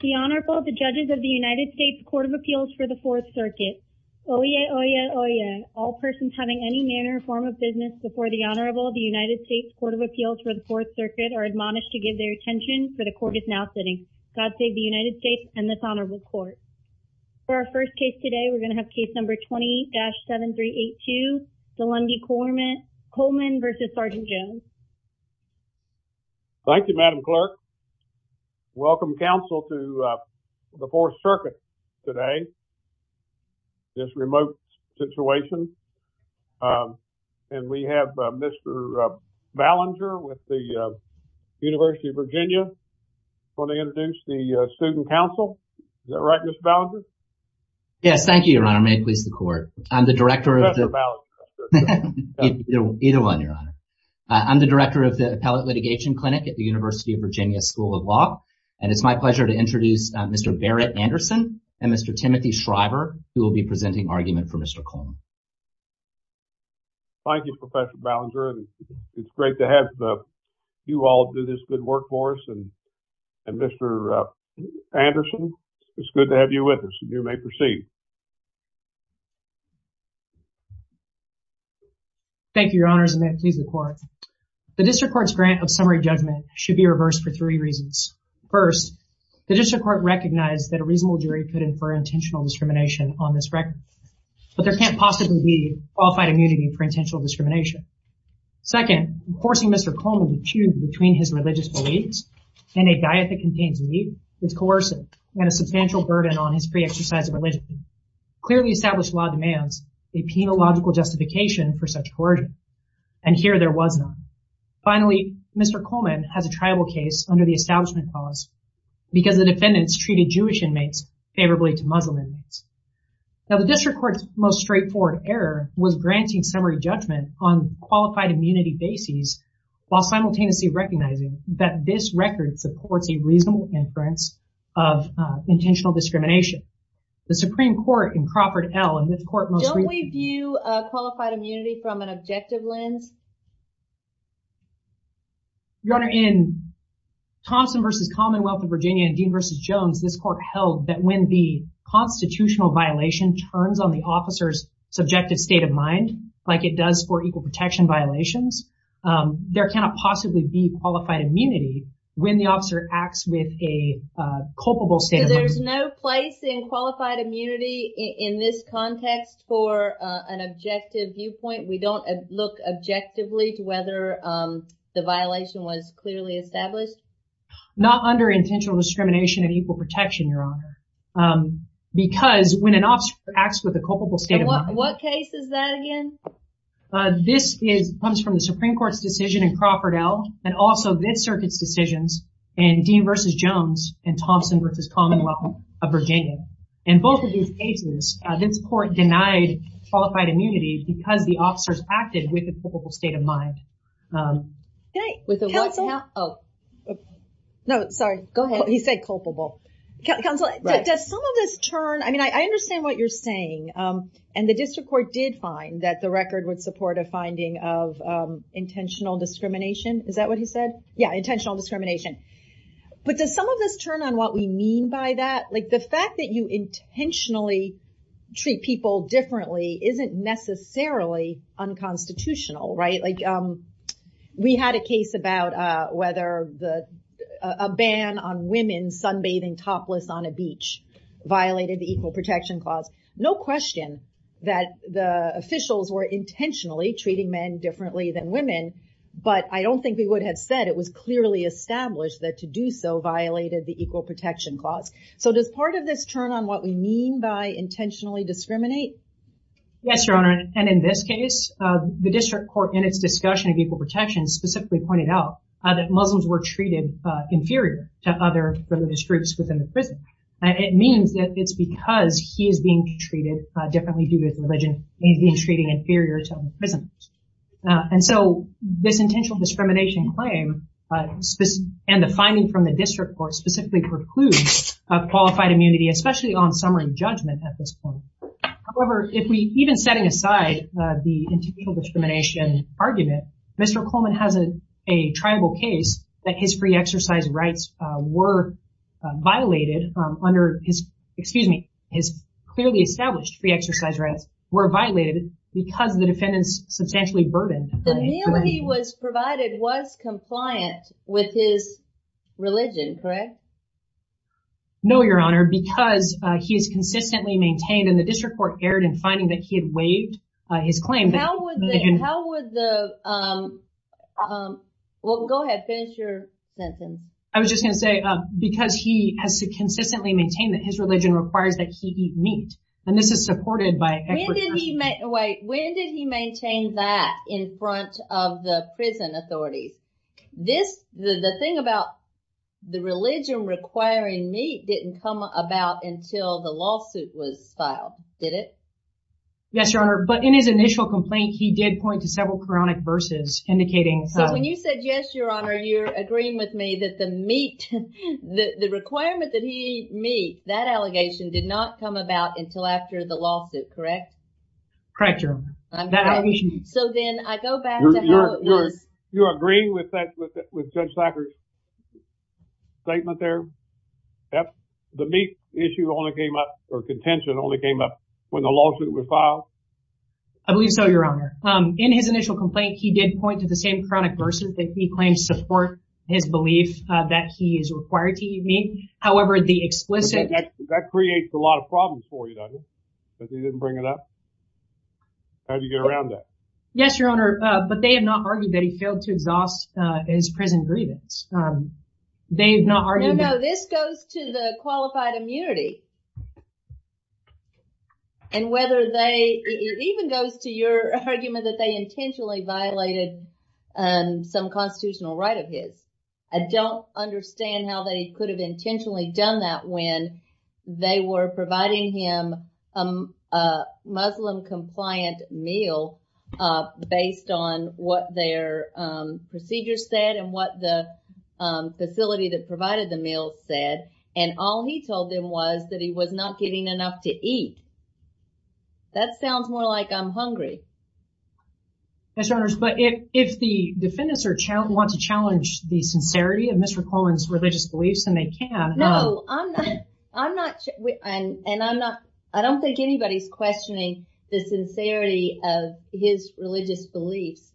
The Honorable, the judges of the United States Court of Appeals for the Fourth Circuit. Oh yeah, oh yeah, oh yeah. All persons having any manner or form of business before the Honorable of the United States Court of Appeals for the Fourth Circuit are admonished to give their attention for the court is now sitting. God save the United States and this Honorable Court. For our first case today, we're going to have case number 28-7382, Deaulandy Coleman v. Sergeant Jones. Thank you, Madam Clerk. Welcome, counsel, to the Fourth Circuit today, this remote situation. And we have Mr. Ballinger with the University of Virginia. He's going to introduce the student counsel. Is that right, Mr. Ballinger? Yes, thank you, Your Honor. May it please the court. I'm the director of the Appellate Litigation Clinic at the University of Virginia School of Law. And it's my pleasure to introduce Mr. Barrett Anderson and Mr. Timothy Shriver, who will be presenting argument for Mr. Coleman. Thank you, Professor Ballinger. It's great to have you all do this good work for us. And Mr. Anderson, it's good to have you with us. You may proceed. Thank you, Your Honor. May it please the court. The district court's grant of summary judgment should be reversed for three reasons. First, the district court recognized that a reasonable jury could infer intentional discrimination on this record. But there can't possibly be qualified immunity for intentional discrimination. Second, forcing Mr. Coleman to choose between his religious beliefs and a diet that contains meat is coercive and a substantial burden on his exercise of religion. Clearly established law demands a penological justification for such coercion. And here there was none. Finally, Mr. Coleman has a tribal case under the establishment clause because the defendants treated Jewish inmates favorably to Muslim inmates. Now, the district court's most straightforward error was granting summary judgment on qualified immunity basis while simultaneously recognizing that this record supports a reasonable inference of intentional discrimination. The Supreme Court in Crawford L. and this court most recently... Don't we view qualified immunity from an objective lens? Your Honor, in Thompson v. Commonwealth of Virginia and Dean v. Jones, this court held that when the constitutional violation turns on the officer's subjective state of mind, like it does for equal protection violations, there cannot possibly be qualified immunity when the officer acts with a culpable... Because there's no place in qualified immunity in this context for an objective viewpoint? We don't look objectively to whether the violation was clearly established? Not under intentional discrimination of equal protection, Your Honor. Because when an officer acts with a culpable state of mind... What case is that again? This comes from the Supreme Court's decision in Crawford L. and also this circuit's decisions in Dean v. Jones and Thompson v. Commonwealth of Virginia. In both of these cases, this court denied qualified immunity because the officers acted with a culpable state of mind. Can I... Counsel? No, sorry. Go ahead. He said culpable. Counsel, does some of this turn... I mean, I understand what you're saying. And the district court did find that the record would support a finding of intentional discrimination. Is that what he said? Yeah, intentional discrimination. But does some of this turn on what we mean by that? The fact that you intentionally treat people differently isn't necessarily unconstitutional, right? We had a case about whether a ban on No question that the officials were intentionally treating men differently than women, but I don't think we would have said it was clearly established that to do so violated the equal protection clause. So does part of this turn on what we mean by intentionally discriminate? Yes, Your Honor. And in this case, the district court in its discussion of equal protection specifically pointed out that Muslims were treated inferior to other religious groups within the prison. It means that it's because he is being treated differently due to his religion. He's being treated inferior to other prisoners. And so this intentional discrimination claim and the finding from the district court specifically precludes qualified immunity, especially on summary judgment at this point. However, even setting aside the intentional discrimination argument, Mr. Coleman has a tribal case that his free exercise rights were violated under his, excuse me, his clearly established free exercise rights were violated because the defendants substantially burdened. The meal he was provided was compliant with his religion, correct? No, Your Honor, because he is consistently maintained and the district court erred in waiving his claim. Well, go ahead, finish your sentence. I was just going to say, because he has to consistently maintain that his religion requires that he eat meat, and this is supported by... Wait, when did he maintain that in front of the prison authorities? This, the thing about the religion requiring meat didn't come about until the lawsuit was filed, did it? Yes, Your Honor, but in his initial complaint, he did point to several chronic verses indicating... So when you said yes, Your Honor, you're agreeing with me that the meat, the requirement that he eat meat, that allegation did not come about until after the lawsuit, correct? Correct, Your Honor. So then I go back to how it was... You're agreeing with that, with Judge Thacker's statement there? The meat issue only came up, or contention only came up, when the lawsuit was filed? I believe so, Your Honor. In his initial complaint, he did point to the same chronic verses that he claims support his belief that he is required to eat meat. However, the explicit... That creates a lot of problems for you, doesn't it, that he didn't bring it up? How'd you get around that? Yes, Your Honor, but they have not argued that he failed to exhaust his present grievance. They've not argued... No, no, this goes to the qualified immunity, and whether they... It even goes to your argument that they intentionally violated some constitutional right of his. I don't understand how they could have intentionally done that when they were providing him a Muslim-compliant meal, based on what their procedures said, and what the facility that provided the meal said, and all he told them was that he was not getting enough to eat. That sounds more like I'm hungry. Yes, Your Honor, but if the defendants want to challenge the sincerity of Mr. Cohen's religious beliefs, and they can... No, I'm not sure, and I'm not... I don't think anybody's questioning the sincerity of his religious beliefs.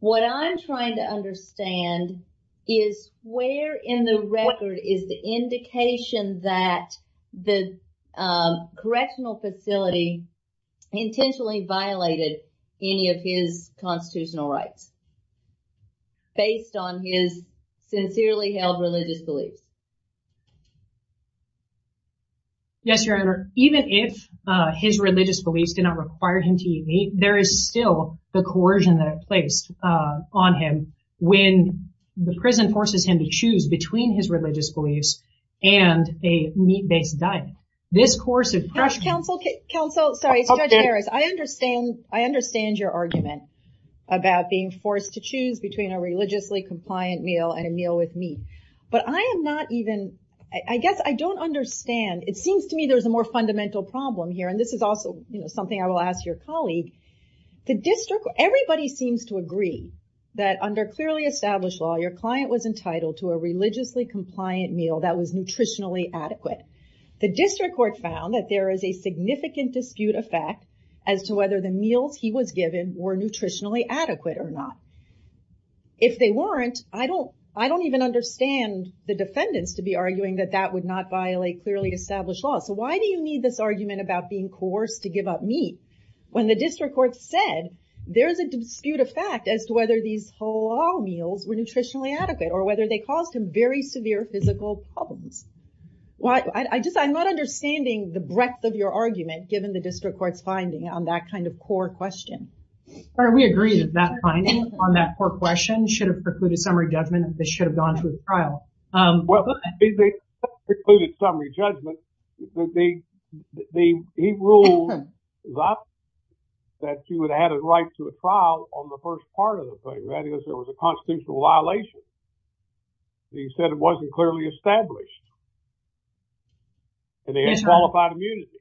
What I'm trying to understand is where in the record is the indication that the correctional facility intentionally violated any of his constitutional rights, based on his sincerely held religious beliefs? Yes, Your Honor, even if his religious beliefs did not require him to eat meat, there is still the coercion that placed on him when the prison forces him to choose between his religious beliefs and a meat-based diet. This course of pressure... Counsel, sorry, it's Judge Harris. I understand your argument about being forced to choose between a religiously-compliant meal and a meal with meat, but I am not even... I guess I don't understand. It seems to me there's a more fundamental problem here, and this is also something I will ask your colleague. Everybody seems to agree that under clearly established law, your client was entitled to a religiously-compliant meal that was nutritionally adequate. The district court found that there is a significant dispute effect as to whether the meals he was given were nutritionally adequate or not. If they weren't, I don't even understand the defendants to be arguing that that would not violate clearly established law. Why do you need this argument about being coerced to give up meat when the district court said there is a dispute effect as to whether these halal meals were nutritionally adequate or whether they caused him very severe physical problems? I'm not understanding the court's finding on that kind of core question. We agree that that finding on that core question should have precluded summary judgment. This should have gone through the trial. Well, they precluded summary judgment. He ruled that he would have had a right to a trial on the first part of the thing. That is, there was a constitutional violation. He said it wasn't clearly established. And they had qualified immunity.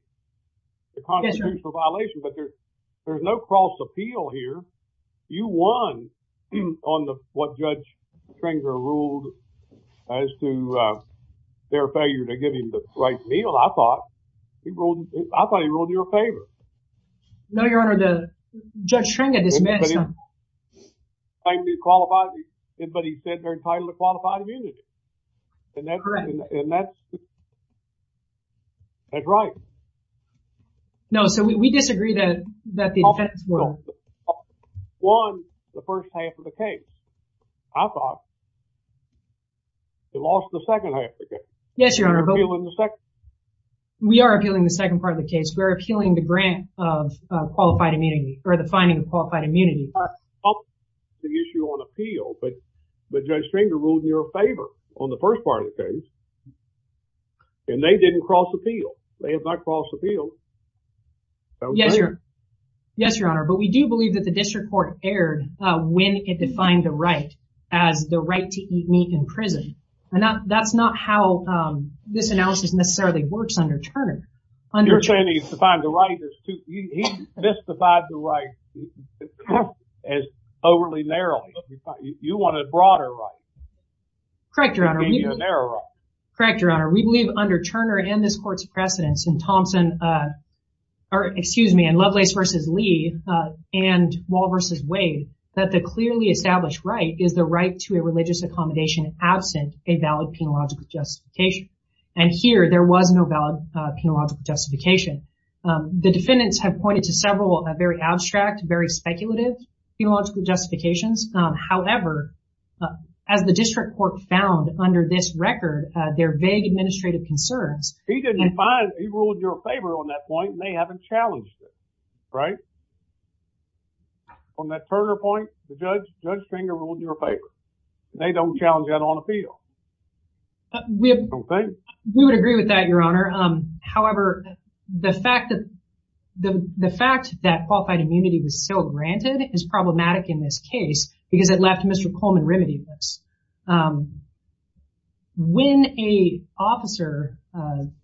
It constitutes a violation, but there's no cross-appeal here. You won on what Judge Schringer ruled as to their failure to give him the right meal. I thought he ruled in your favor. No, Your Honor, Judge Schringer dismissed them. He said they're entitled to qualified immunity. And that's right. No, so we disagree that the defense won the first half of the case. I thought they lost the second half of the case. Yes, Your Honor. We are appealing the second part of the case. We're appealing the grant of qualified immunity or the finding of qualified immunity. The issue on appeal, but Judge Schringer ruled in your favor on the first part of the case. And they didn't cross-appeal. They have not crossed-appealed. Yes, Your Honor, but we do believe that the district court erred when it defined the right as the right to eat meat in prison. And that's not how this analysis necessarily works under the law. You want a broader right. Correct, Your Honor. We believe under Turner and this court's precedence in Thompson, or excuse me, in Lovelace v. Lee and Wall v. Wade, that the clearly established right is the right to a religious accommodation absent a valid penological justification. And here there was no valid penological justification. The defendants have pointed to several very abstract, very speculative penological justifications. However, as the district court found under this record, their vague administrative concerns. He ruled in your favor on that point and they haven't challenged it, right? From that Turner point, Judge Schringer ruled in your favor. They don't challenge that on appeal. We would agree with that, Your Honor. However, the fact that qualified immunity was still granted is problematic in this case because it left Mr. Coleman remedyless. When a officer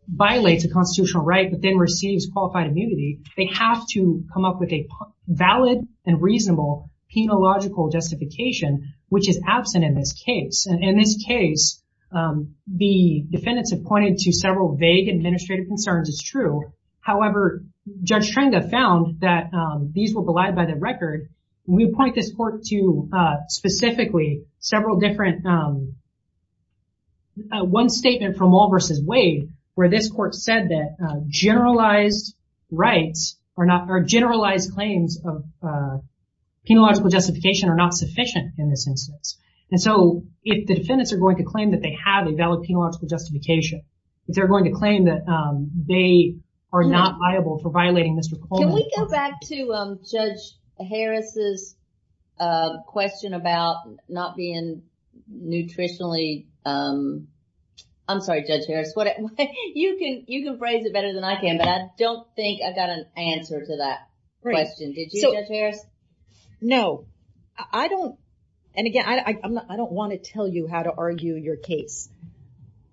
violates a constitutional right but then receives qualified immunity, they have to come up with a valid and reasonable penological justification, which is absent in this case. In this case, the defendants have pointed to several vague administrative concerns. It's true. However, Judge Schringer found that these were belied by the record. We point this court to specifically several different, one statement from Wall v. Wade where this court said that generalized claims of penological justification are not sufficient in this instance. And so if the defendants are going to claim that they have valid penological justification, they're going to claim that they are not liable for violating Mr. Coleman. Can we go back to Judge Harris's question about not being nutritionally, I'm sorry, Judge Harris. You can phrase it better than I can, but I don't think I got an answer to that question. Did you, Judge Harris? No, I don't. And again, I don't want to tell you how to argue your case.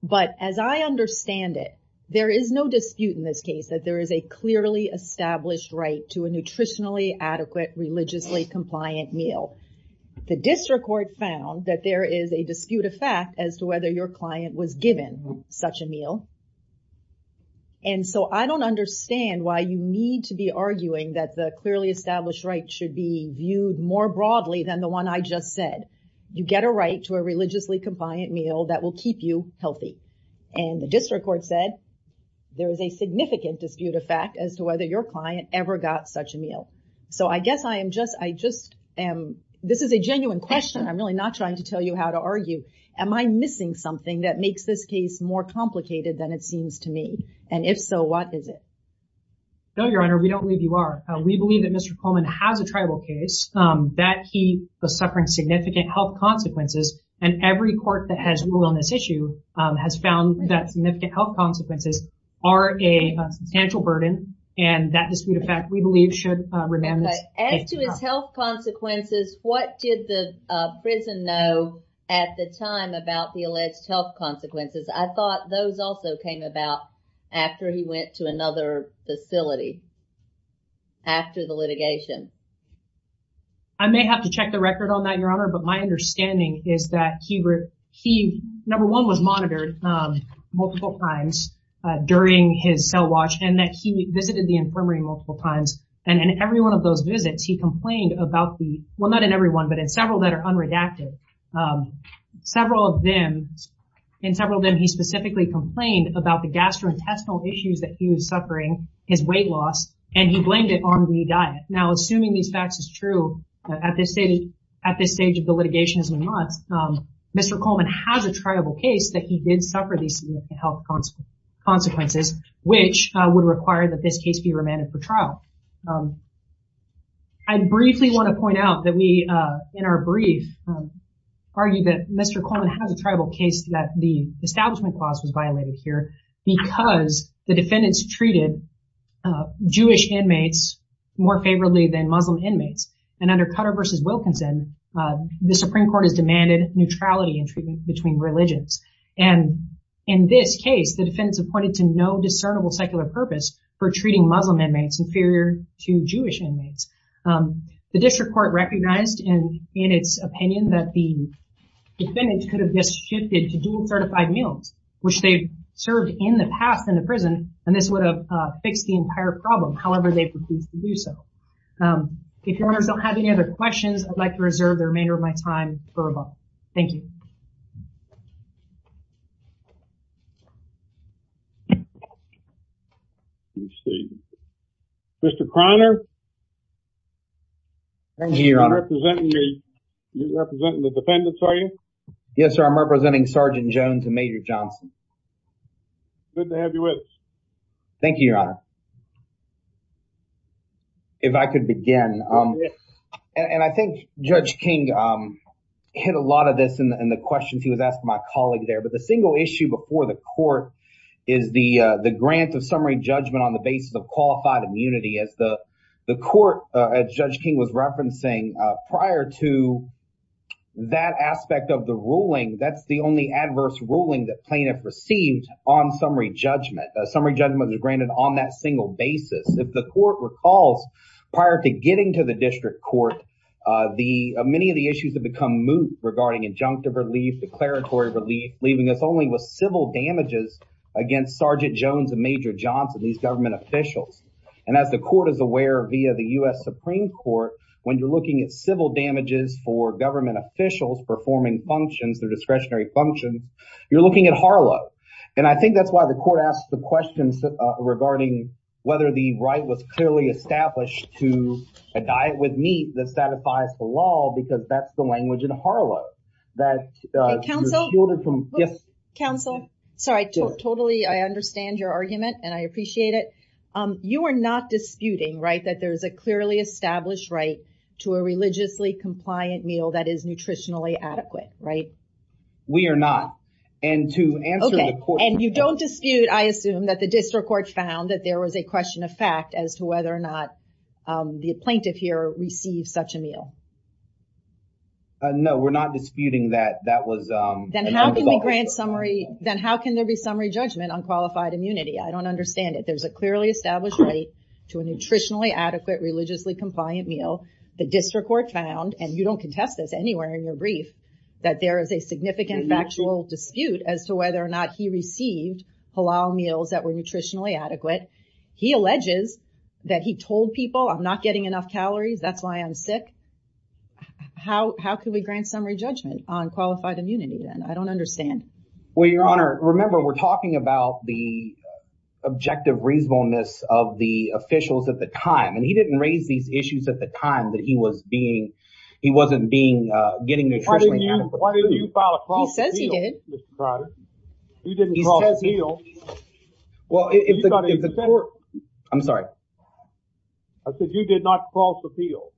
But as I understand it, there is no dispute in this case that there is a clearly established right to a nutritionally adequate, religiously compliant meal. The district court found that there is a dispute of fact as to whether your client was given such a meal. And so I don't understand why you need to be arguing that the clearly established right should be viewed more broadly than the one I just said. You get a right to a religiously compliant meal that will keep you healthy. And the district court said there is a significant dispute of fact as to whether your client ever got such a meal. So I guess I am just, I just am, this is a genuine question. I'm really not trying to tell you how to argue. Am I missing something that makes this case more complicated than it seems to me? And if so, what is it? No, Your Honor, we don't believe you are. We believe that Mr. Coleman has a tribal case that he was suffering significant health consequences. And every court that has ruled on this issue has found that significant health consequences are a substantial burden. And that dispute of fact, we believe should remain. As to his health consequences, what did the prison know at the time about the alleged health after the litigation? I may have to check the record on that, Your Honor. But my understanding is that he, number one, was monitored multiple times during his cell watch and that he visited the infirmary multiple times. And in every one of those visits, he complained about the, well, not in every one, but in several that are unredacted. Several of them, in several of them, he specifically complained about the gastrointestinal issues that he was suffering, his weight loss, and he blamed it on the diet. Now, assuming these facts is true, at this stage of the litigation, Mr. Coleman has a tribal case that he did suffer these health consequences, which would require that this case be remanded for trial. I briefly want to point out that we, in our brief, argued that Mr. Coleman has a tribal case that the defendants treated Jewish inmates more favorably than Muslim inmates. And under Cutler v. Wilkinson, the Supreme Court has demanded neutrality in treatment between religions. And in this case, the defendants have pointed to no discernible secular purpose for treating Muslim inmates inferior to Jewish inmates. The district court recognized in its opinion that the defendant could have just shifted to dual certified meals, which they served in the past in the prison, and this would have fixed the entire problem. However, they've refused to do so. If your honors don't have any other questions, I'd like to reserve the remainder of my time for a moment. Thank you. Let's see. Mr. Croner? Thank you, your honor. You're representing the defendants, are you? Yes, sir. I'm representing Sergeant Jones and Major Johnson. Good to have you with us. Thank you, your honor. If I could begin. And I think Judge King hit a lot of this in the questions he was asking my colleague there. But the single issue before the court is the grant of summary judgment on the basis of qualified immunity. As the court, as Judge King was referencing, prior to that aspect of the ruling, that's the only adverse ruling that plaintiff received on summary judgment. Summary judgment is granted on that single basis. If the court recalls, prior to getting to the district court, many of the issues have become moot regarding injunctive relief, declaratory relief, leaving us only with civil damages against Sergeant Jones and Major Johnson, these government officials. And as the court is aware via the U.S. Supreme Court, when you're looking at civil damages for government officials performing functions, their discretionary functions, you're looking at HARLA. And I think that's why the court asked the questions regarding whether the right was clearly established to a diet with meat that satisfies the law, because that's the language in HARLA. Counsel, sorry, totally. I understand your argument and I appreciate it. You are not disputing, right, that there's a clearly established right to a religiously compliant meal that is nutritionally adequate, right? We are not. Okay. And you don't dispute, I assume, that the district court found that there was a question of fact as to whether or not the plaintiff here received such a meal. No, we're not disputing that that was- Then how can there be summary judgment on qualified immunity? I don't understand it. There's a clearly established right to a nutritionally adequate, religiously compliant meal. The district court found, and you don't contest this anywhere in your brief, that there is a significant factual dispute as to whether or not he received halal meals that were nutritionally adequate. He alleges that he told people, I'm not getting enough calories, that's why I'm sick. How can we grant summary judgment on qualified immunity then? I don't understand. Well, Your Honor, remember we're talking about the objective reasonableness of the at the time that he wasn't getting nutritionally adequate. Why didn't you file a false appeal? He says he did. You didn't file a false appeal. I'm sorry. I said you did not file a false appeal.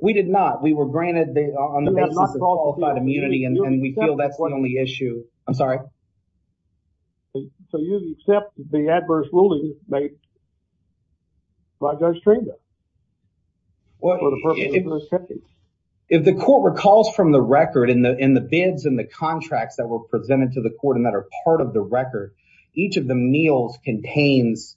We did not. We were granted on the basis of qualified immunity and we feel that's the only I'm sorry. So you accept the adverse ruling made by Judge Tringa? If the court recalls from the record in the bids and the contracts that were presented to the court and that are part of the record, each of the meals contains,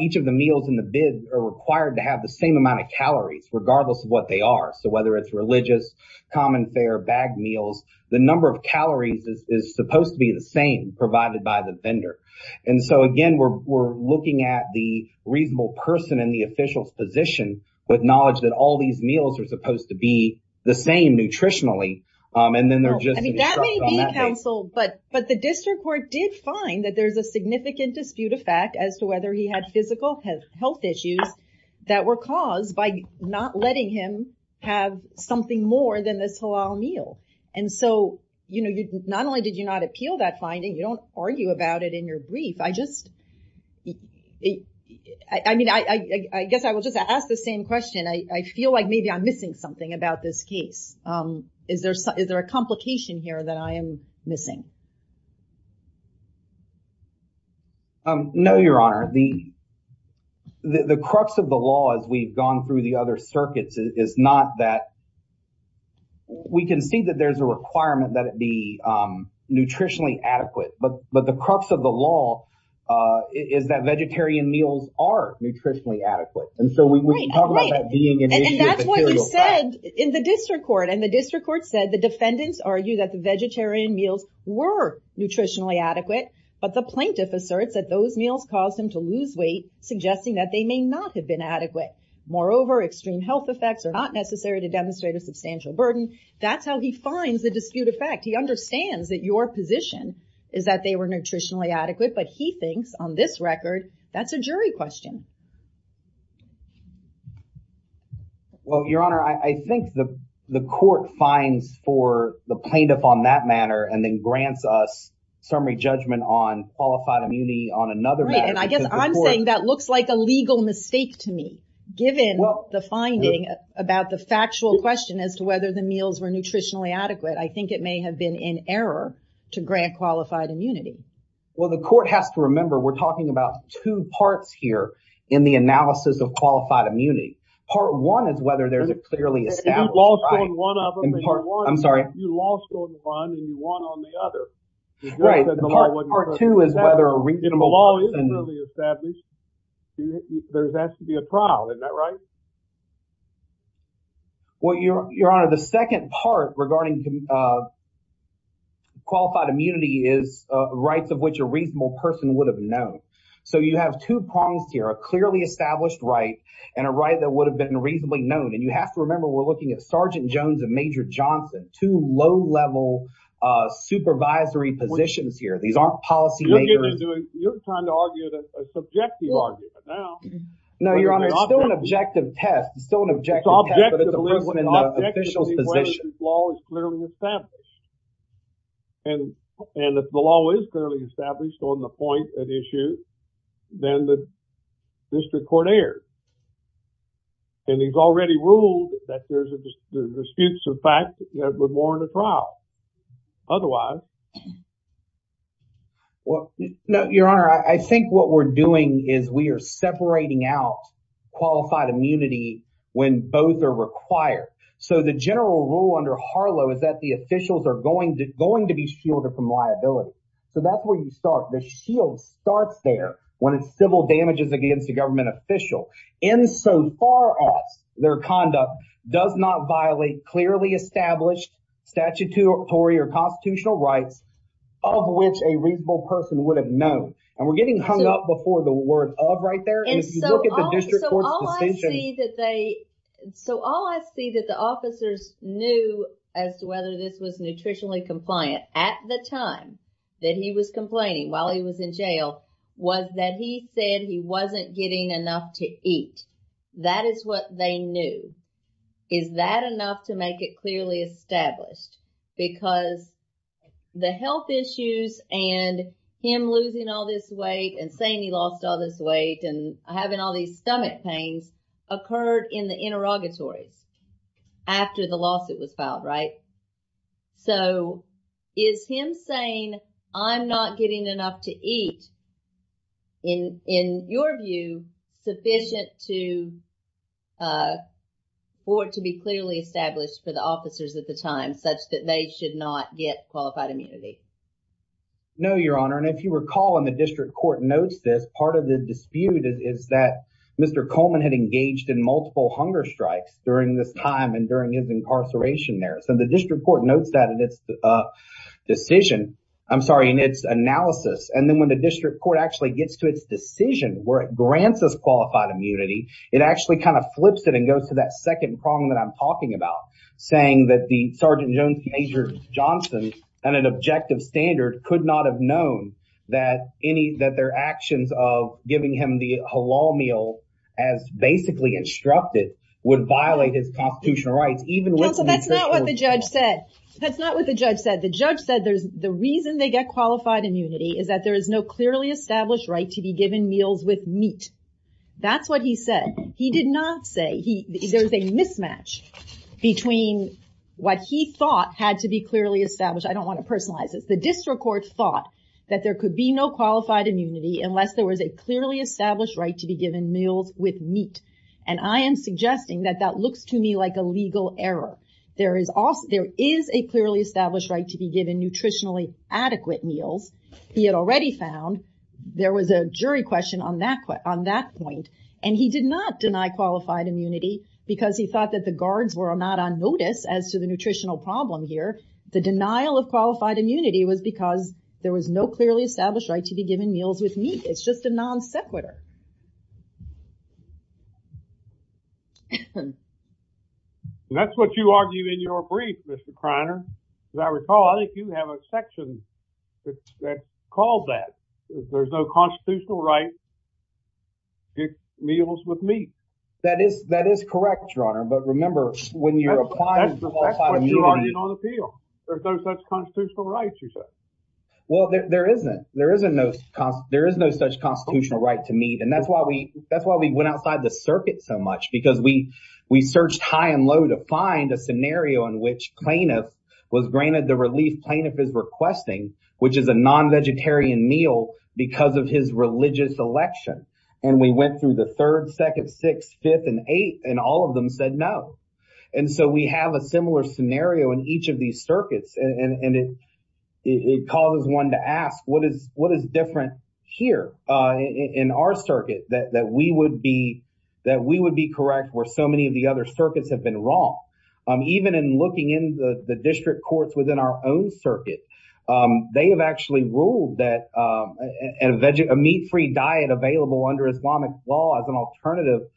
each of the meals in the bid are required to have the same amount of calories regardless of what they are. So whether it's religious, common fare, bagged meals, the number of calories is supposed to be the same provided by the vendor. And so again, we're looking at the reasonable person in the official's position with knowledge that all these meals are supposed to be the same nutritionally and then they're just I mean, that may be counseled, but the district court did find that there's a significant dispute effect as to whether he had physical health issues that were caused by not letting him have something more than this whole meal. And so, you know, not only did you not appeal that finding, you don't argue about it in your brief. I just I mean, I guess I will just ask the same question. I feel like maybe I'm missing something about this case. Is there a complication here that I am missing? No, Your Honor. The crux of the law as we've gone through the other circuits is not that we can see that there's a requirement that it be nutritionally adequate, but the crux of the law is that vegetarian meals are nutritionally adequate. And so we can talk about that being an issue. And that's what you said in the district court. And the district court said the defendants argue that the vegetarian meals were nutritionally adequate, but the plaintiff asserts that those meals caused him to lose weight, suggesting that they may not have been adequate. Moreover, extreme health effects are not necessary to demonstrate a substantial burden. That's how he finds the dispute effect. He understands that your position is that they were nutritionally adequate, but he thinks on this record, that's a jury question. Well, Your Honor, I think the court finds for the plaintiff on that manner and then grants us summary judgment on qualified immunity on another. And I guess I'm saying that looks like a legal mistake to me, given the finding about the factual question as to whether the meals were nutritionally adequate. I think it may have been in error to grant qualified immunity. Well, the court has to remember, we're talking about two parts here in the analysis of qualified immunity. Part one is whether there's a clearly established. You lost on one and you won on the other. Part two is whether a reasonable law is really established. There has to be a trial, isn't that right? Well, Your Honor, the second part regarding qualified immunity is rights of which a reasonable person would have known. So you have two problems here, a clearly established right and a right that would have been reasonably known. And you have to remember, we're looking at supervisory positions here. These aren't policy makers. You're trying to argue a subjective argument now. No, Your Honor, it's still an objective test. It's still an objective test, but it's a person in the official's position. It's objectively whether this law is clearly established. And if the law is clearly established on the point at issue, then the district court is not going to be able to prove that anything is there. And he's already ruled that there's a dispute of fact that would warrant a trial. Otherwise… Well, Your Honor, I think what we're doing is we are separating out qualified immunity when both are required. So the general rule under Harlow is that the officials are going to be shielded from liability. So that's where you start. The shield starts there when it's civil damages against a government official insofar as their conduct does not violate clearly established statutory or constitutional rights of which a reasonable person would have known. And we're getting hung up before the word of right there. And if you look at the district court's decision… So all I see that the officers knew as to whether this was nutritionally compliant at the time that he was complaining while he was in jail was that he said he wasn't getting enough to eat. That is what they knew. Is that enough to make it clearly established? Because the health issues and him losing all this weight and saying he lost all this weight and having all these stomach pains occurred in the interrogatories after the lawsuit was filed, right? So is him saying I'm not getting enough to eat, in your view, sufficient for it to be clearly established for the officers at the time such that they should not get qualified immunity? No, Your Honor. And if you recall, and the district court notes this, part of the dispute is that Mr. Coleman had engaged in multiple hunger strikes during this time and during his incarceration there. So the district court notes that in its decision. I'm sorry, in its analysis. And then when the district court actually gets to its decision where it grants us qualified immunity, it actually kind of flips it and goes to that second prong that I'm talking about, saying that the Sergeant Major Johnson and an objective standard could not have known that their actions of giving him the halal meal, as basically instructed, would violate his constitutional rights, even with- Counsel, that's not what the judge said. That's not what the judge said. The judge said the reason they get qualified immunity is that there is no clearly established right to be given meals with meat. That's what he said. He did not say there was a mismatch between what he thought had to be clearly established. I don't want to personalize this. The district court thought that there could be no qualified immunity unless there was a clearly established right to be given meals with meat. And I am suggesting that that looks to me like a legal error. There is a clearly established right to be given nutritionally adequate meals. He had already found there was a jury question on that point. And he did not deny qualified immunity because he thought that the guards were not on notice as to the nutritional problem here. The denial of qualified immunity was because there was no clearly established right to be given meals with meat. It's just a non sequitur. That's what you argue in your brief, Mr. Kreiner. As I recall, I think you have a section that called that. There's no constitutional right to get meals with meat. That is correct, Your Honor. But remember, when you're applying- But you're arguing on appeal. There's no such constitutional right, you said. Well, there isn't. There is no such constitutional right to meat. And that's why we went outside the circuit so much because we searched high and low to find a scenario in which plaintiff was granted the relief plaintiff is requesting, which is a non-vegetarian meal because of his religious election. And we went through the third, second, sixth, fifth, and eighth, and all of them said no. And so we have a similar scenario in each of these circuits. And it causes one to ask, what is different here in our circuit that we would be correct where so many of the other circuits have been wrong? Even in looking in the district courts within our own circuit, they have actually ruled that a meat-free diet available under Islamic law as an alternative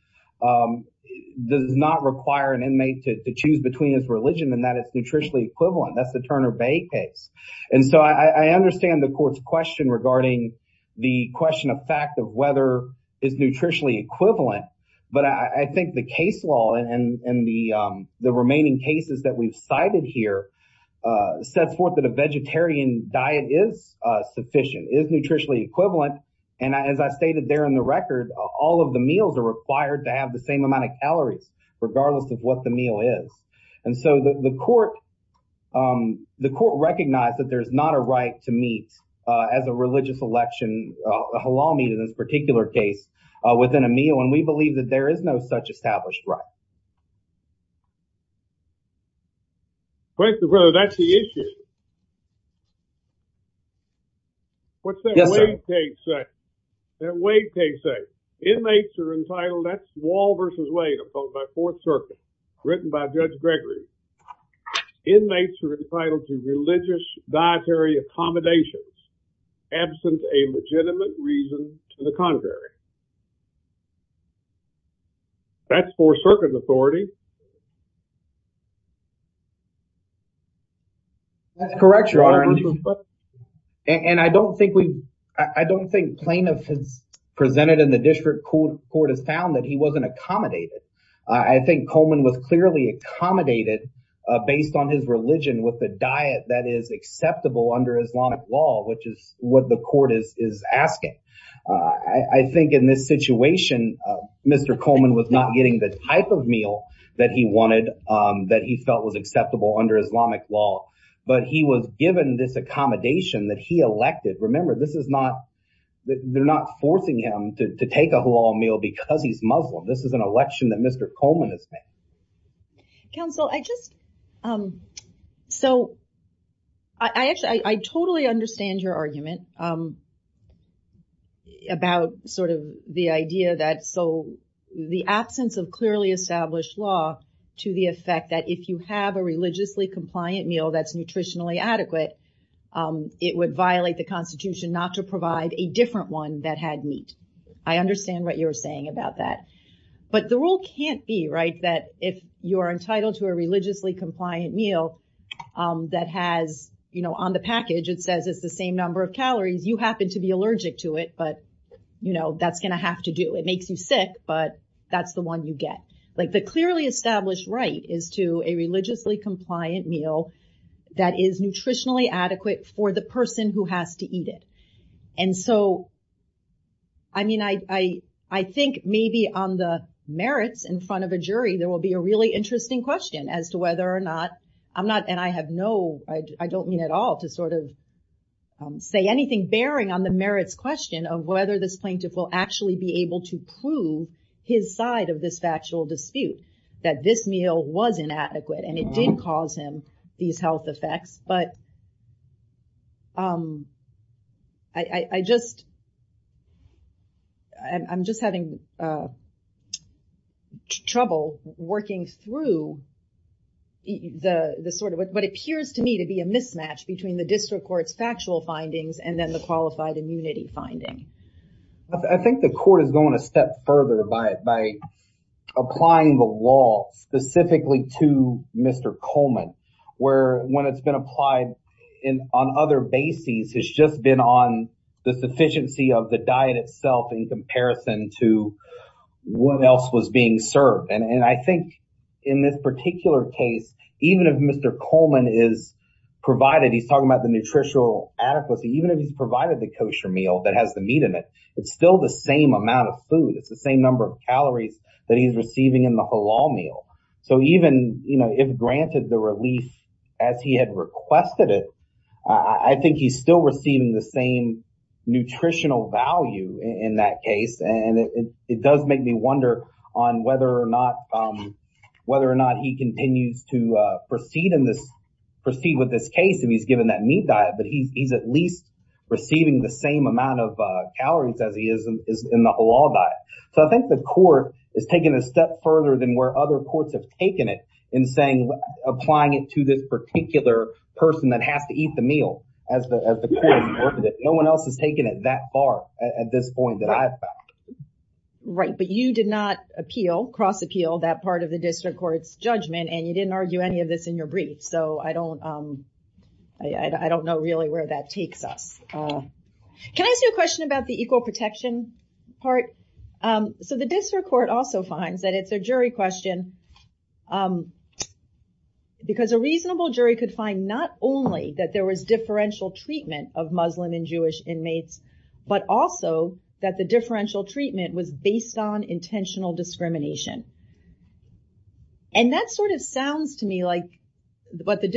does not require an inmate to choose between his religion and that it's nutritionally equivalent. That's the Turner Bay case. And so I understand the court's question regarding the question of fact of whether it's nutritionally equivalent. But I think the case law and the remaining cases that we've cited here sets forth that a vegetarian diet is sufficient, is nutritionally equivalent. And as I stated there in the record, all of the meals are required to have the same amount of calories, regardless of what the meal is. And so the court recognized that there's not a right to meat as a religious election, halal meat in this particular case, within a meal. And we believe that there is no such established right. The question is whether that's the issue. What's that Wade case say? Inmates are entitled, that's Wall v. Wade, opposed by Fourth Circuit, written by Judge Gregory. Inmates are entitled to religious dietary accommodations, absent a legitimate reason to the contrary. That's Fourth Circuit's authority. That's correct, Your Honor. And I don't think plaintiff has presented in the district court has found that he wasn't accommodated. I think Coleman was clearly accommodated based on his religion with a diet that is acceptable under Islamic law, which is what the court is asking. I think in this situation, Mr. Coleman was not getting the type of meal that he wanted, that he felt was acceptable under Islamic law, but he was given this accommodation that he elected. Remember, they're not forcing him to take a halal meal because he's Muslim. This is an election that Mr. Coleman has made. Counsel, I totally understand your argument about the idea that the absence of clearly established law to the effect that if you have a religiously compliant meal that's nutritionally adequate, it would violate the constitution not to provide a different one that had meat. I understand what you're saying about that, but the rule can't be that if you're entitled to a religiously compliant meal that has on the package, it says it's the same number of calories. You happen to be allergic to it, but that's going to have to do. It makes you sick, but that's the one you get. The clearly established right is to a religiously compliant meal that is nutritionally adequate for the person who has to eat it. I think maybe on the merits in front of a jury, there will be a really interesting question as to whether or not, and I have no, I don't mean at all to say anything bearing on the merits question of whether this plaintiff will actually be able to prove his side of this factual dispute, that this meal was inadequate and it didn't cause these health effects. I'm just having trouble working through what appears to me to be a mismatch between the district court's factual findings and then the qualified immunity finding. I think the court is going a step further by applying the law specifically to Mr. Coleman, where when it's been applied on other bases, it's just been on the sufficiency of the diet itself in comparison to what else was being served. I think in this particular case, even if Mr. Coleman is provided, he's talking about the nutritional adequacy, even if he's provided the kosher meal that has the meat in it, it's still the same amount of food. It's the same number of calories that he's receiving in the halal meal. Even if granted the relief as he had requested it, I think he's still receiving the same nutritional value in that case. It does make me wonder on whether or not he continues to proceed with this case if he's given that meat diet, but he's at least receiving the same amount of calories as he is in the halal diet. I think the court is taking a step further than where other courts have taken it in saying, applying it to this particular person that has to eat the meal as the court reported it. No one else has taken it that far at this point that I have found. Right, but you did not appeal, cross appeal that part of the district court's judgment, and you didn't argue any of this in your brief. I don't know really where that takes us. Can I ask you a question about the equal protection part? The district court also finds that it's a jury question because a reasonable jury could find not only that there was differential treatment of Muslim and Jewish inmates, but also that the differential treatment was based on intentional discrimination. That sounds to me like what the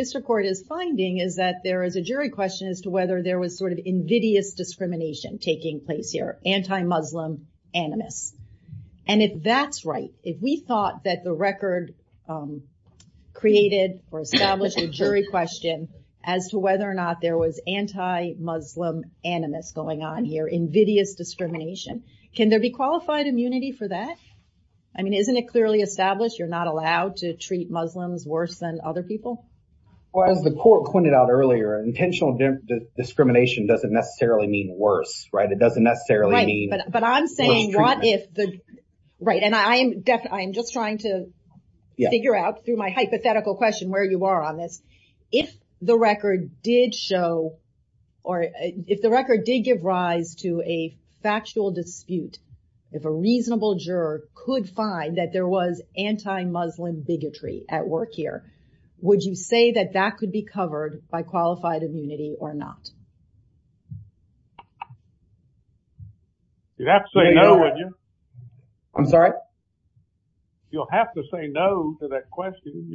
question is to whether there was invidious discrimination taking place here, anti-Muslim animus. If that's right, if we thought that the record created or established a jury question as to whether or not there was anti-Muslim animus going on here, invidious discrimination, can there be qualified immunity for that? Isn't it clearly established you're not allowed to treat discrimination? Intentional discrimination doesn't necessarily mean worse, right? It doesn't necessarily mean worse treatment. Right, and I am just trying to figure out through my hypothetical question where you are on this. If the record did give rise to a factual dispute, if a reasonable juror could find that there was anti-Muslim bigotry at work here, would you say that that could be covered by qualified immunity or not? You'd have to say no, wouldn't you? I'm sorry? You'll have to say no to that question.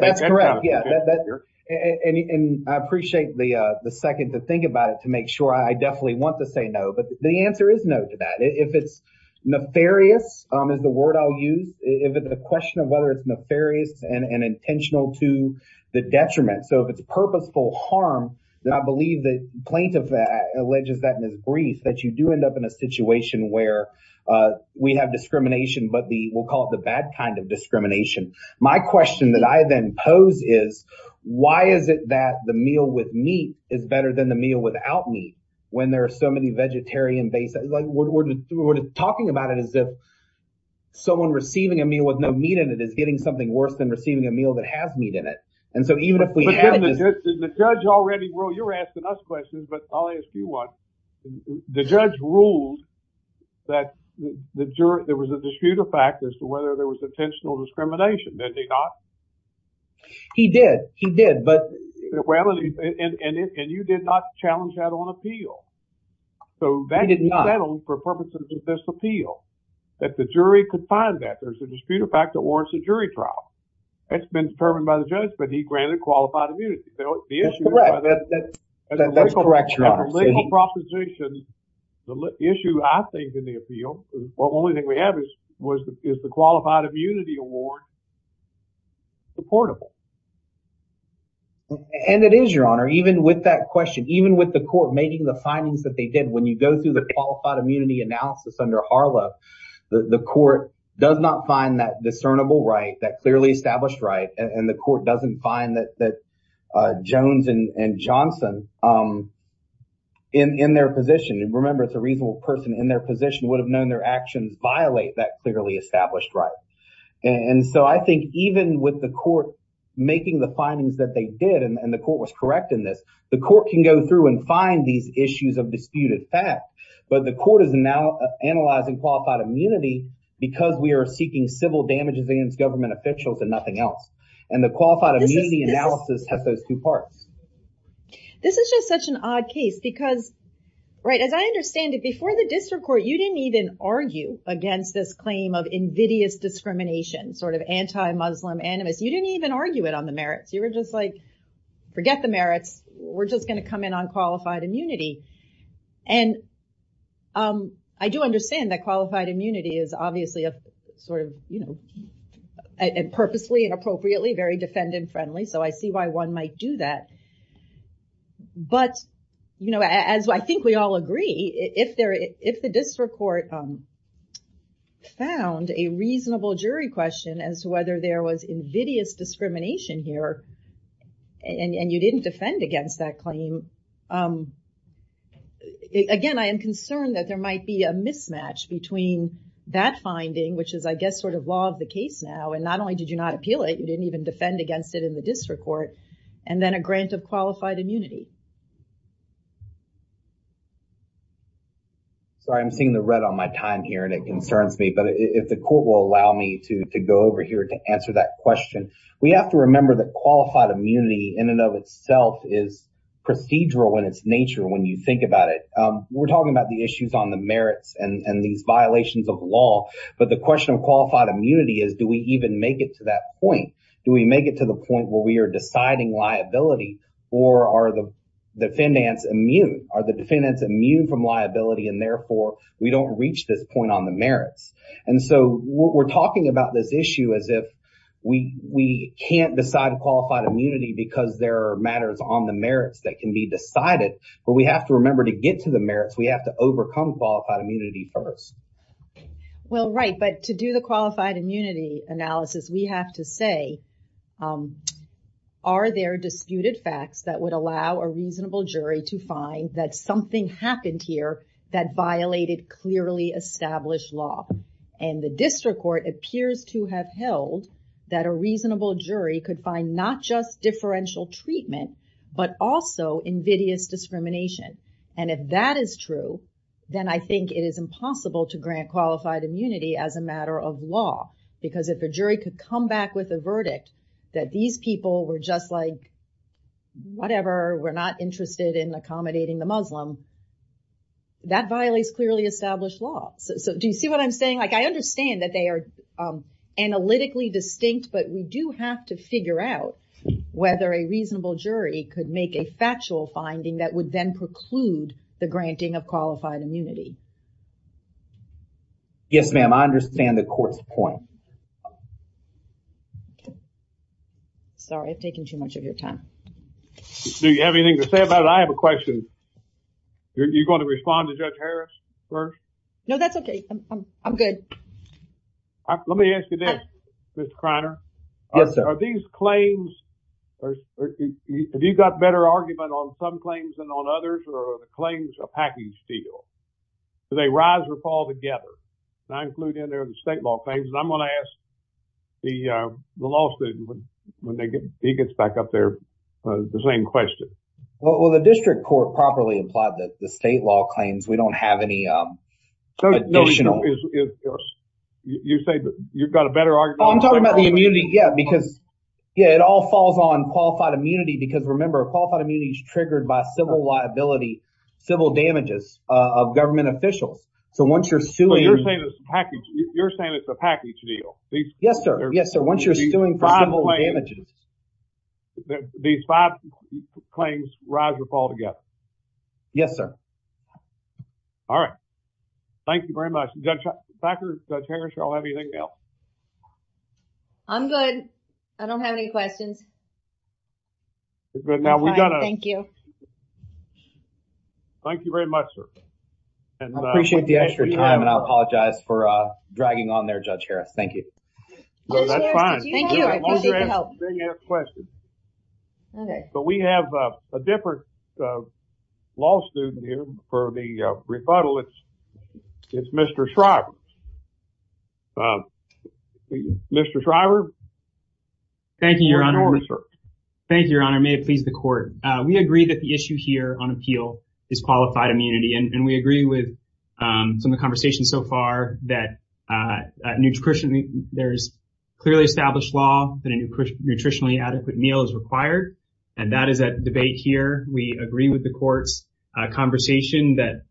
That's correct, yeah, and I appreciate the second to think about it to make sure. I definitely want to say no, but the answer is no to that. If it's whether it's nefarious and intentional to the detriment, so if it's purposeful harm, then I believe the plaintiff alleges that in his brief that you do end up in a situation where we have discrimination, but we'll call it the bad kind of discrimination. My question that I then pose is why is it that the meal with meat is better than the meal without meat when there is getting something worse than receiving a meal that has meat in it? You're asking us questions, but I'll ask you one. The judge ruled that there was a dispute of fact as to whether there was intentional discrimination. Did they not? He did, he did. And you did not challenge that on appeal. He did not. So that's settled for purposes of this appeal that the jury could find that there's a dispute of fact that warrants a jury trial. That's been determined by the judge, but he granted qualified immunity. That's correct, your honor. The legal proposition, the issue I think in the appeal, the only thing we have is, is the qualified immunity award supportable? And it is, your honor. Even with that question, even with the court making the findings that they did, when you go through the qualified immunity analysis under HARLA, the court does not find that discernible right, that clearly established right, and the court doesn't find that Jones and Johnson in their position, and remember it's a reasonable person in their position, would have known their actions violate that clearly established right. And so I think even with the court making the findings that they did, and the court was correct in this, the court can go through and find these issues of disputed fact, but the court is now qualified immunity because we are seeking civil damages against government officials and nothing else. And the qualified immunity analysis has those two parts. This is just such an odd case because, right, as I understand it, before the district court, you didn't even argue against this claim of invidious discrimination, sort of anti-Muslim animus. You didn't even argue it on the merits. You were just like, forget the merits. We're just going to come in on qualified immunity. And I do understand that qualified immunity is obviously a sort of, you know, purposely and appropriately very defendant friendly. So I see why one might do that. But, you know, as I think we all agree, if the district court found a reasonable jury question as to whether there was invidious discrimination here, and you didn't defend against that claim, again, I am concerned that there might be a mismatch between that finding, which is, I guess, sort of law of the case now, and not only did you not appeal it, you didn't even defend against it in the district court, and then a grant of qualified immunity. Sorry, I'm seeing the red on my time here and it concerns me, but if the court will allow me to go over here to answer that question, we have to remember that qualified immunity in and of itself is procedural in its nature when you think about it. We're talking about the issues on the merits and these violations of law, but the question of qualified immunity is, do we even make it to that point? Do we make it to the point where we are deciding liability or are the defendants immune? Are the defendants immune from liability and therefore we don't reach this point on the merits? And so we're talking about this issue as if we can't decide qualified immunity because there are matters on the merits that can be decided, but we have to remember to get to the merits, we have to overcome qualified immunity first. Well, right, but to do the qualified immunity analysis, we have to say, are there disputed facts that would allow a reasonable jury to find that something happened here that violated clearly established law? And the district court appears to have held that a reasonable jury could find not just differential treatment, but also invidious discrimination. And if that is true, then I think it is impossible to grant qualified immunity as a matter of law, because if a jury could come back with a verdict that these people were just like, whatever, we're not interested in accommodating the Muslim, that violates clearly established law. So do you see what I'm saying? Like, I understand that they are analytically distinct, but we do have to figure out whether a reasonable jury could make a factual finding that would then preclude the granting of qualified immunity. Yes, ma'am, I understand the court's point. Sorry, I've taken too much of your time. Do you have anything to say about it? I have a question. You're going to respond to Judge Harris first? No, that's okay. I'm good. Let me ask you this, Mr. Kreiner. Yes, sir. Are these claims, have you got better argument on some claims than on others, or are the claims a packing steal? Do they rise or fall together? And I include in there the state law claims, and I'm going to ask the law student when he gets back up there the same question. Well, the district court properly implied that the state law claims, we don't have any additional. You say that you've got a better argument. I'm talking about the immunity, yeah, because it all falls on qualified immunity, because remember, qualified immunity is triggered by civil liability, civil damages of government officials. So once you're suing. So you're saying it's a package deal? Yes, sir. Yes, sir. Once you're suing for civil damages. These five claims rise or fall together? Yes, sir. All right. Thank you very much. Judge Packer, Judge Harris, do you all have anything else? I'm good. I don't have any questions. But now we've got to. Thank you. Thank you very much, sir. I appreciate the extra time, and I apologize for dragging on there, Judge Harris. Thank you. No, that's fine. Thank you. I appreciate the help. I have a question. But we have a different law student here for the rebuttal. It's Mr. Shriver. Mr. Shriver. Thank you, Your Honor. Thank you, Your Honor. May it please the court. We agree that the issue here on appeal is qualified immunity, and we agree with some of the nutritionally adequate meal is required. And that is a debate here. We agree with the court's conversation that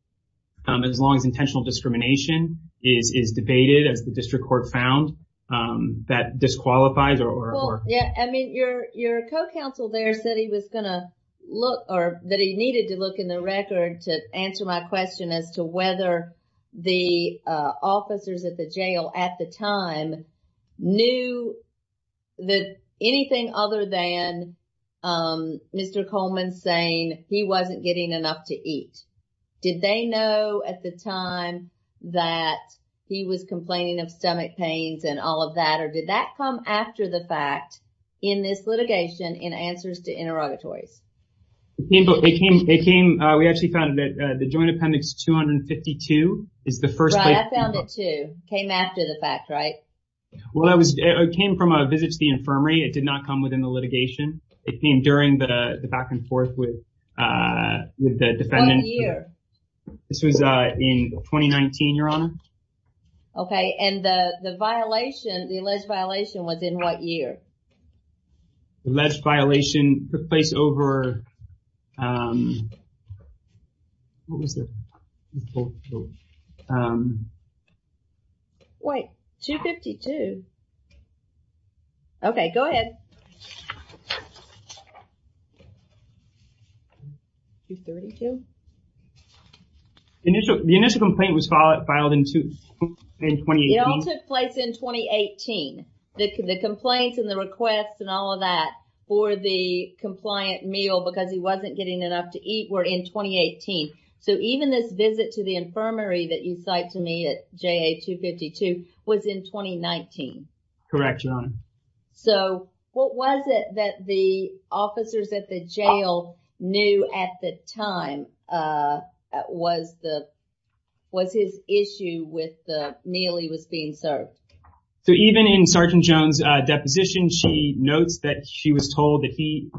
as long as intentional discrimination is debated, as the district court found, that disqualifies. I mean, your co-counsel there said he was going to look or that he needed to look in the record to answer my question as to whether the officers at the jail at the time knew that anything other than Mr. Coleman saying he wasn't getting enough to eat. Did they know at the time that he was complaining of stomach pains and all of that, or did that come after the fact in this litigation in answers to interrogatories? It came, we actually found that the Joint Appendix 252 is the first. I found it too. Came after the fact, right? Well, it came from a visit to the infirmary. It did not come within the litigation. It came during the back and forth with the defendant. What year? This was in 2019, Your Honor. Okay. And the violation, the alleged violation was in what year? Alleged violation took place over, what was it? Wait, 252. Okay, go ahead. 232? The initial complaint was filed in 2018. It all took place in 2018. The complaints and the requests and all of that for the compliant meal because he wasn't getting enough to eat were in 2018. So, even this visit to the infirmary that you cite to me at JA 252 was in 2019. Correct, Your Honor. So, what was it that the officers at the jail knew at the time was his issue with the meal he served? So, even in Sergeant Jones' deposition, she notes that she was told that he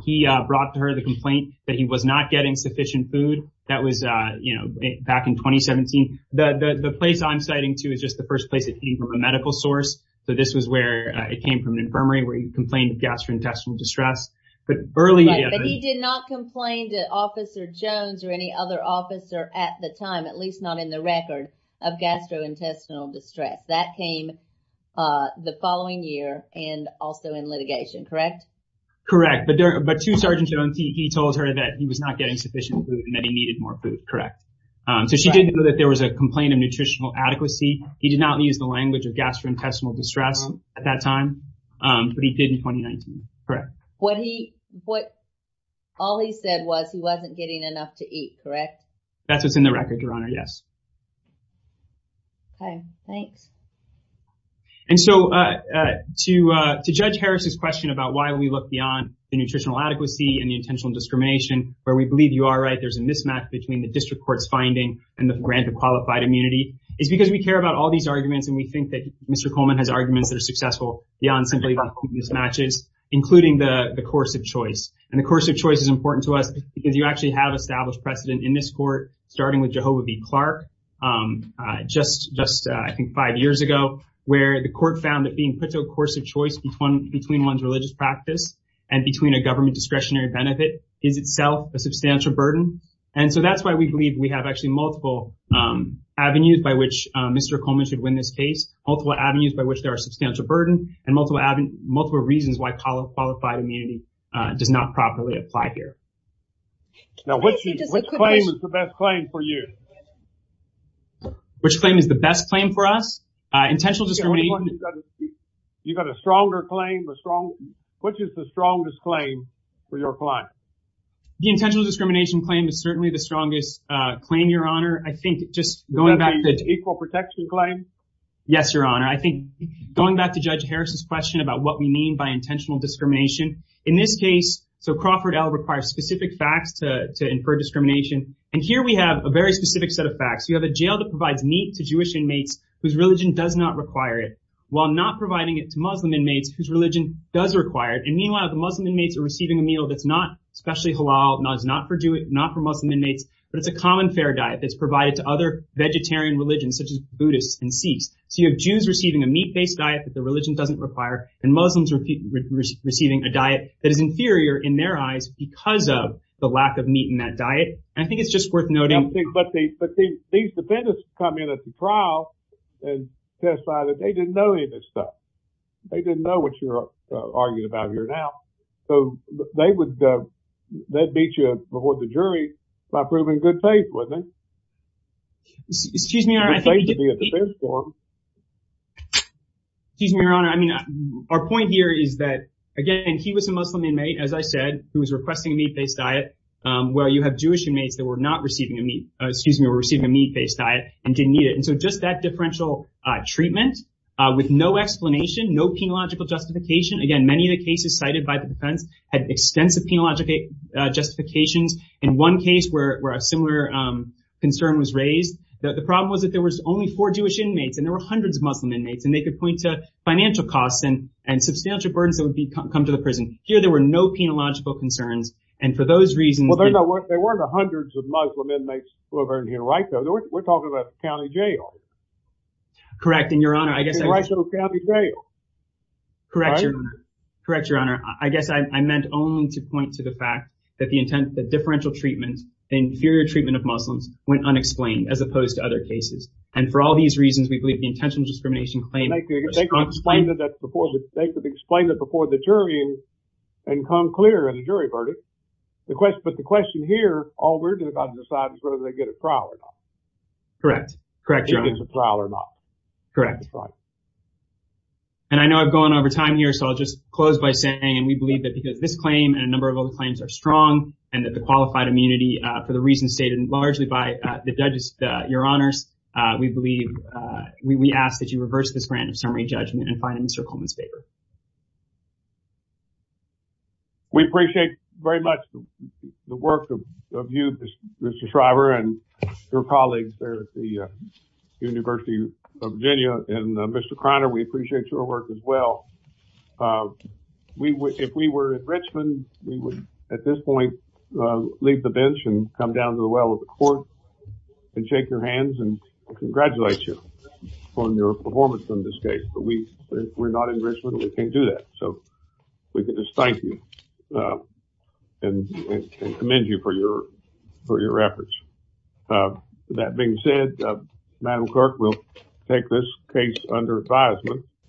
brought to her the complaint that he was not getting sufficient food. That was back in 2017. The place I'm citing to is just the first place that he came from a medical source. So, this was where it came from an infirmary where he complained of gastrointestinal distress. But early- Right, but he did not complain to Officer Jones or any other officer at the time, at least not in the record of gastrointestinal distress. That came the following year and also in litigation. Correct? Correct, but to Sergeant Jones, he told her that he was not getting sufficient food and that he needed more food. Correct. So, she did know that there was a complaint of nutritional adequacy. He did not use the language of gastrointestinal distress at that time, but he did in 2019. Correct. All he said was he wasn't getting enough to eat. Correct? That's what's in the record, Your Honor, yes. Okay, thanks. And so, to Judge Harris's question about why we look beyond the nutritional adequacy and the intentional discrimination, where we believe you are right, there's a mismatch between the district court's finding and the grant of qualified immunity, is because we care about all these arguments and we think that Mr. Coleman has arguments that are successful beyond simply mismatches, including the course of choice. And the course of choice is important to us because you actually have established precedent in this court, starting with Jehovah v. Clark, just, I think, five years ago, where the court found that being put to a course of choice between one's religious practice and between a government discretionary benefit is itself a substantial burden. And so, that's why we believe we have actually multiple avenues by which Mr. Coleman should win this case, multiple avenues by which there are substantial burden and multiple reasons why qualified immunity does not properly apply here. Now, which claim is the best claim for you? Which claim is the best claim for us? Intentional discrimination. You got a stronger claim, which is the strongest claim for your client? The intentional discrimination claim is certainly the strongest claim, Your Honor. I think just going back to... Is that the equal protection claim? Yes, Your Honor. I think going back to Judge Harris's question about what we mean by intentional discrimination, in this case, so Crawford L. requires specific facts to infer discrimination. And here we have a very specific set of facts. You have a jail that provides meat to Jewish inmates whose religion does not require it, while not providing it to Muslim inmates whose religion does require it. And meanwhile, the Muslim inmates are receiving a meal that's not especially halal, not for Muslim inmates, but it's a common fair diet that's provided to other vegetarian religions, such as Buddhists and Sikhs. So, you have Jews receiving a meat-based diet that their religion doesn't require, and Muslims receiving a diet that is inferior in their eyes because of the lack of meat in that diet. And I think it's just worth noting... But these defendants come in at the trial and testify that they didn't know any of this stuff. They didn't know what you're arguing about here now. So, they would beat you before the jury by proving good faith, wouldn't they? Excuse me, Your Honor. Excuse me, Your Honor. I mean, our point here is that, again, he was a Muslim inmate, as I said, who was requesting a meat-based diet, where you have Jewish inmates that were not receiving a meat... Excuse me, were receiving a meat-based diet and didn't need it. And so, just that differential treatment with no explanation, no penological justification. Again, many of the cases cited by the defense had extensive penological justifications. In one case where a similar concern was raised, the problem was that there was only four Jewish inmates, and there were hundreds of Muslim inmates, and they could point to financial costs and substantial burdens that would come to the prison. Here, there were no penological concerns, and for those reasons... Well, there weren't hundreds of Muslim inmates who were in here, right? We're talking about county jail. Correct, and Your Honor, I guess... The differential treatment, the inferior treatment of Muslims, went unexplained, as opposed to other cases. And for all these reasons, we believe the intentional discrimination claim... They could explain it before the jury and come clear in a jury verdict. But the question here, all we're going to have to decide is whether they get a trial or not. Correct. Correct, Your Honor. Whether they get a trial or not. Correct. And I know I've gone over time here, so I'll just close by saying, and we believe that because this claim and a number of other claims are strong, and that the qualified immunity, for the reasons stated largely by the judges, Your Honors, we believe... We ask that you reverse this grant of summary judgment and find it in Mr. Coleman's favor. We appreciate very much the work of you, Mr. Shriver, and your colleagues there at the court. If we were in Richmond, we would, at this point, leave the bench and come down to the well of the court and shake your hands and congratulate you on your performance in this case. But we're not in Richmond and we can't do that. So we can just thank you and commend you for your efforts. That being said, Madam Clerk, we'll take this case under advisement.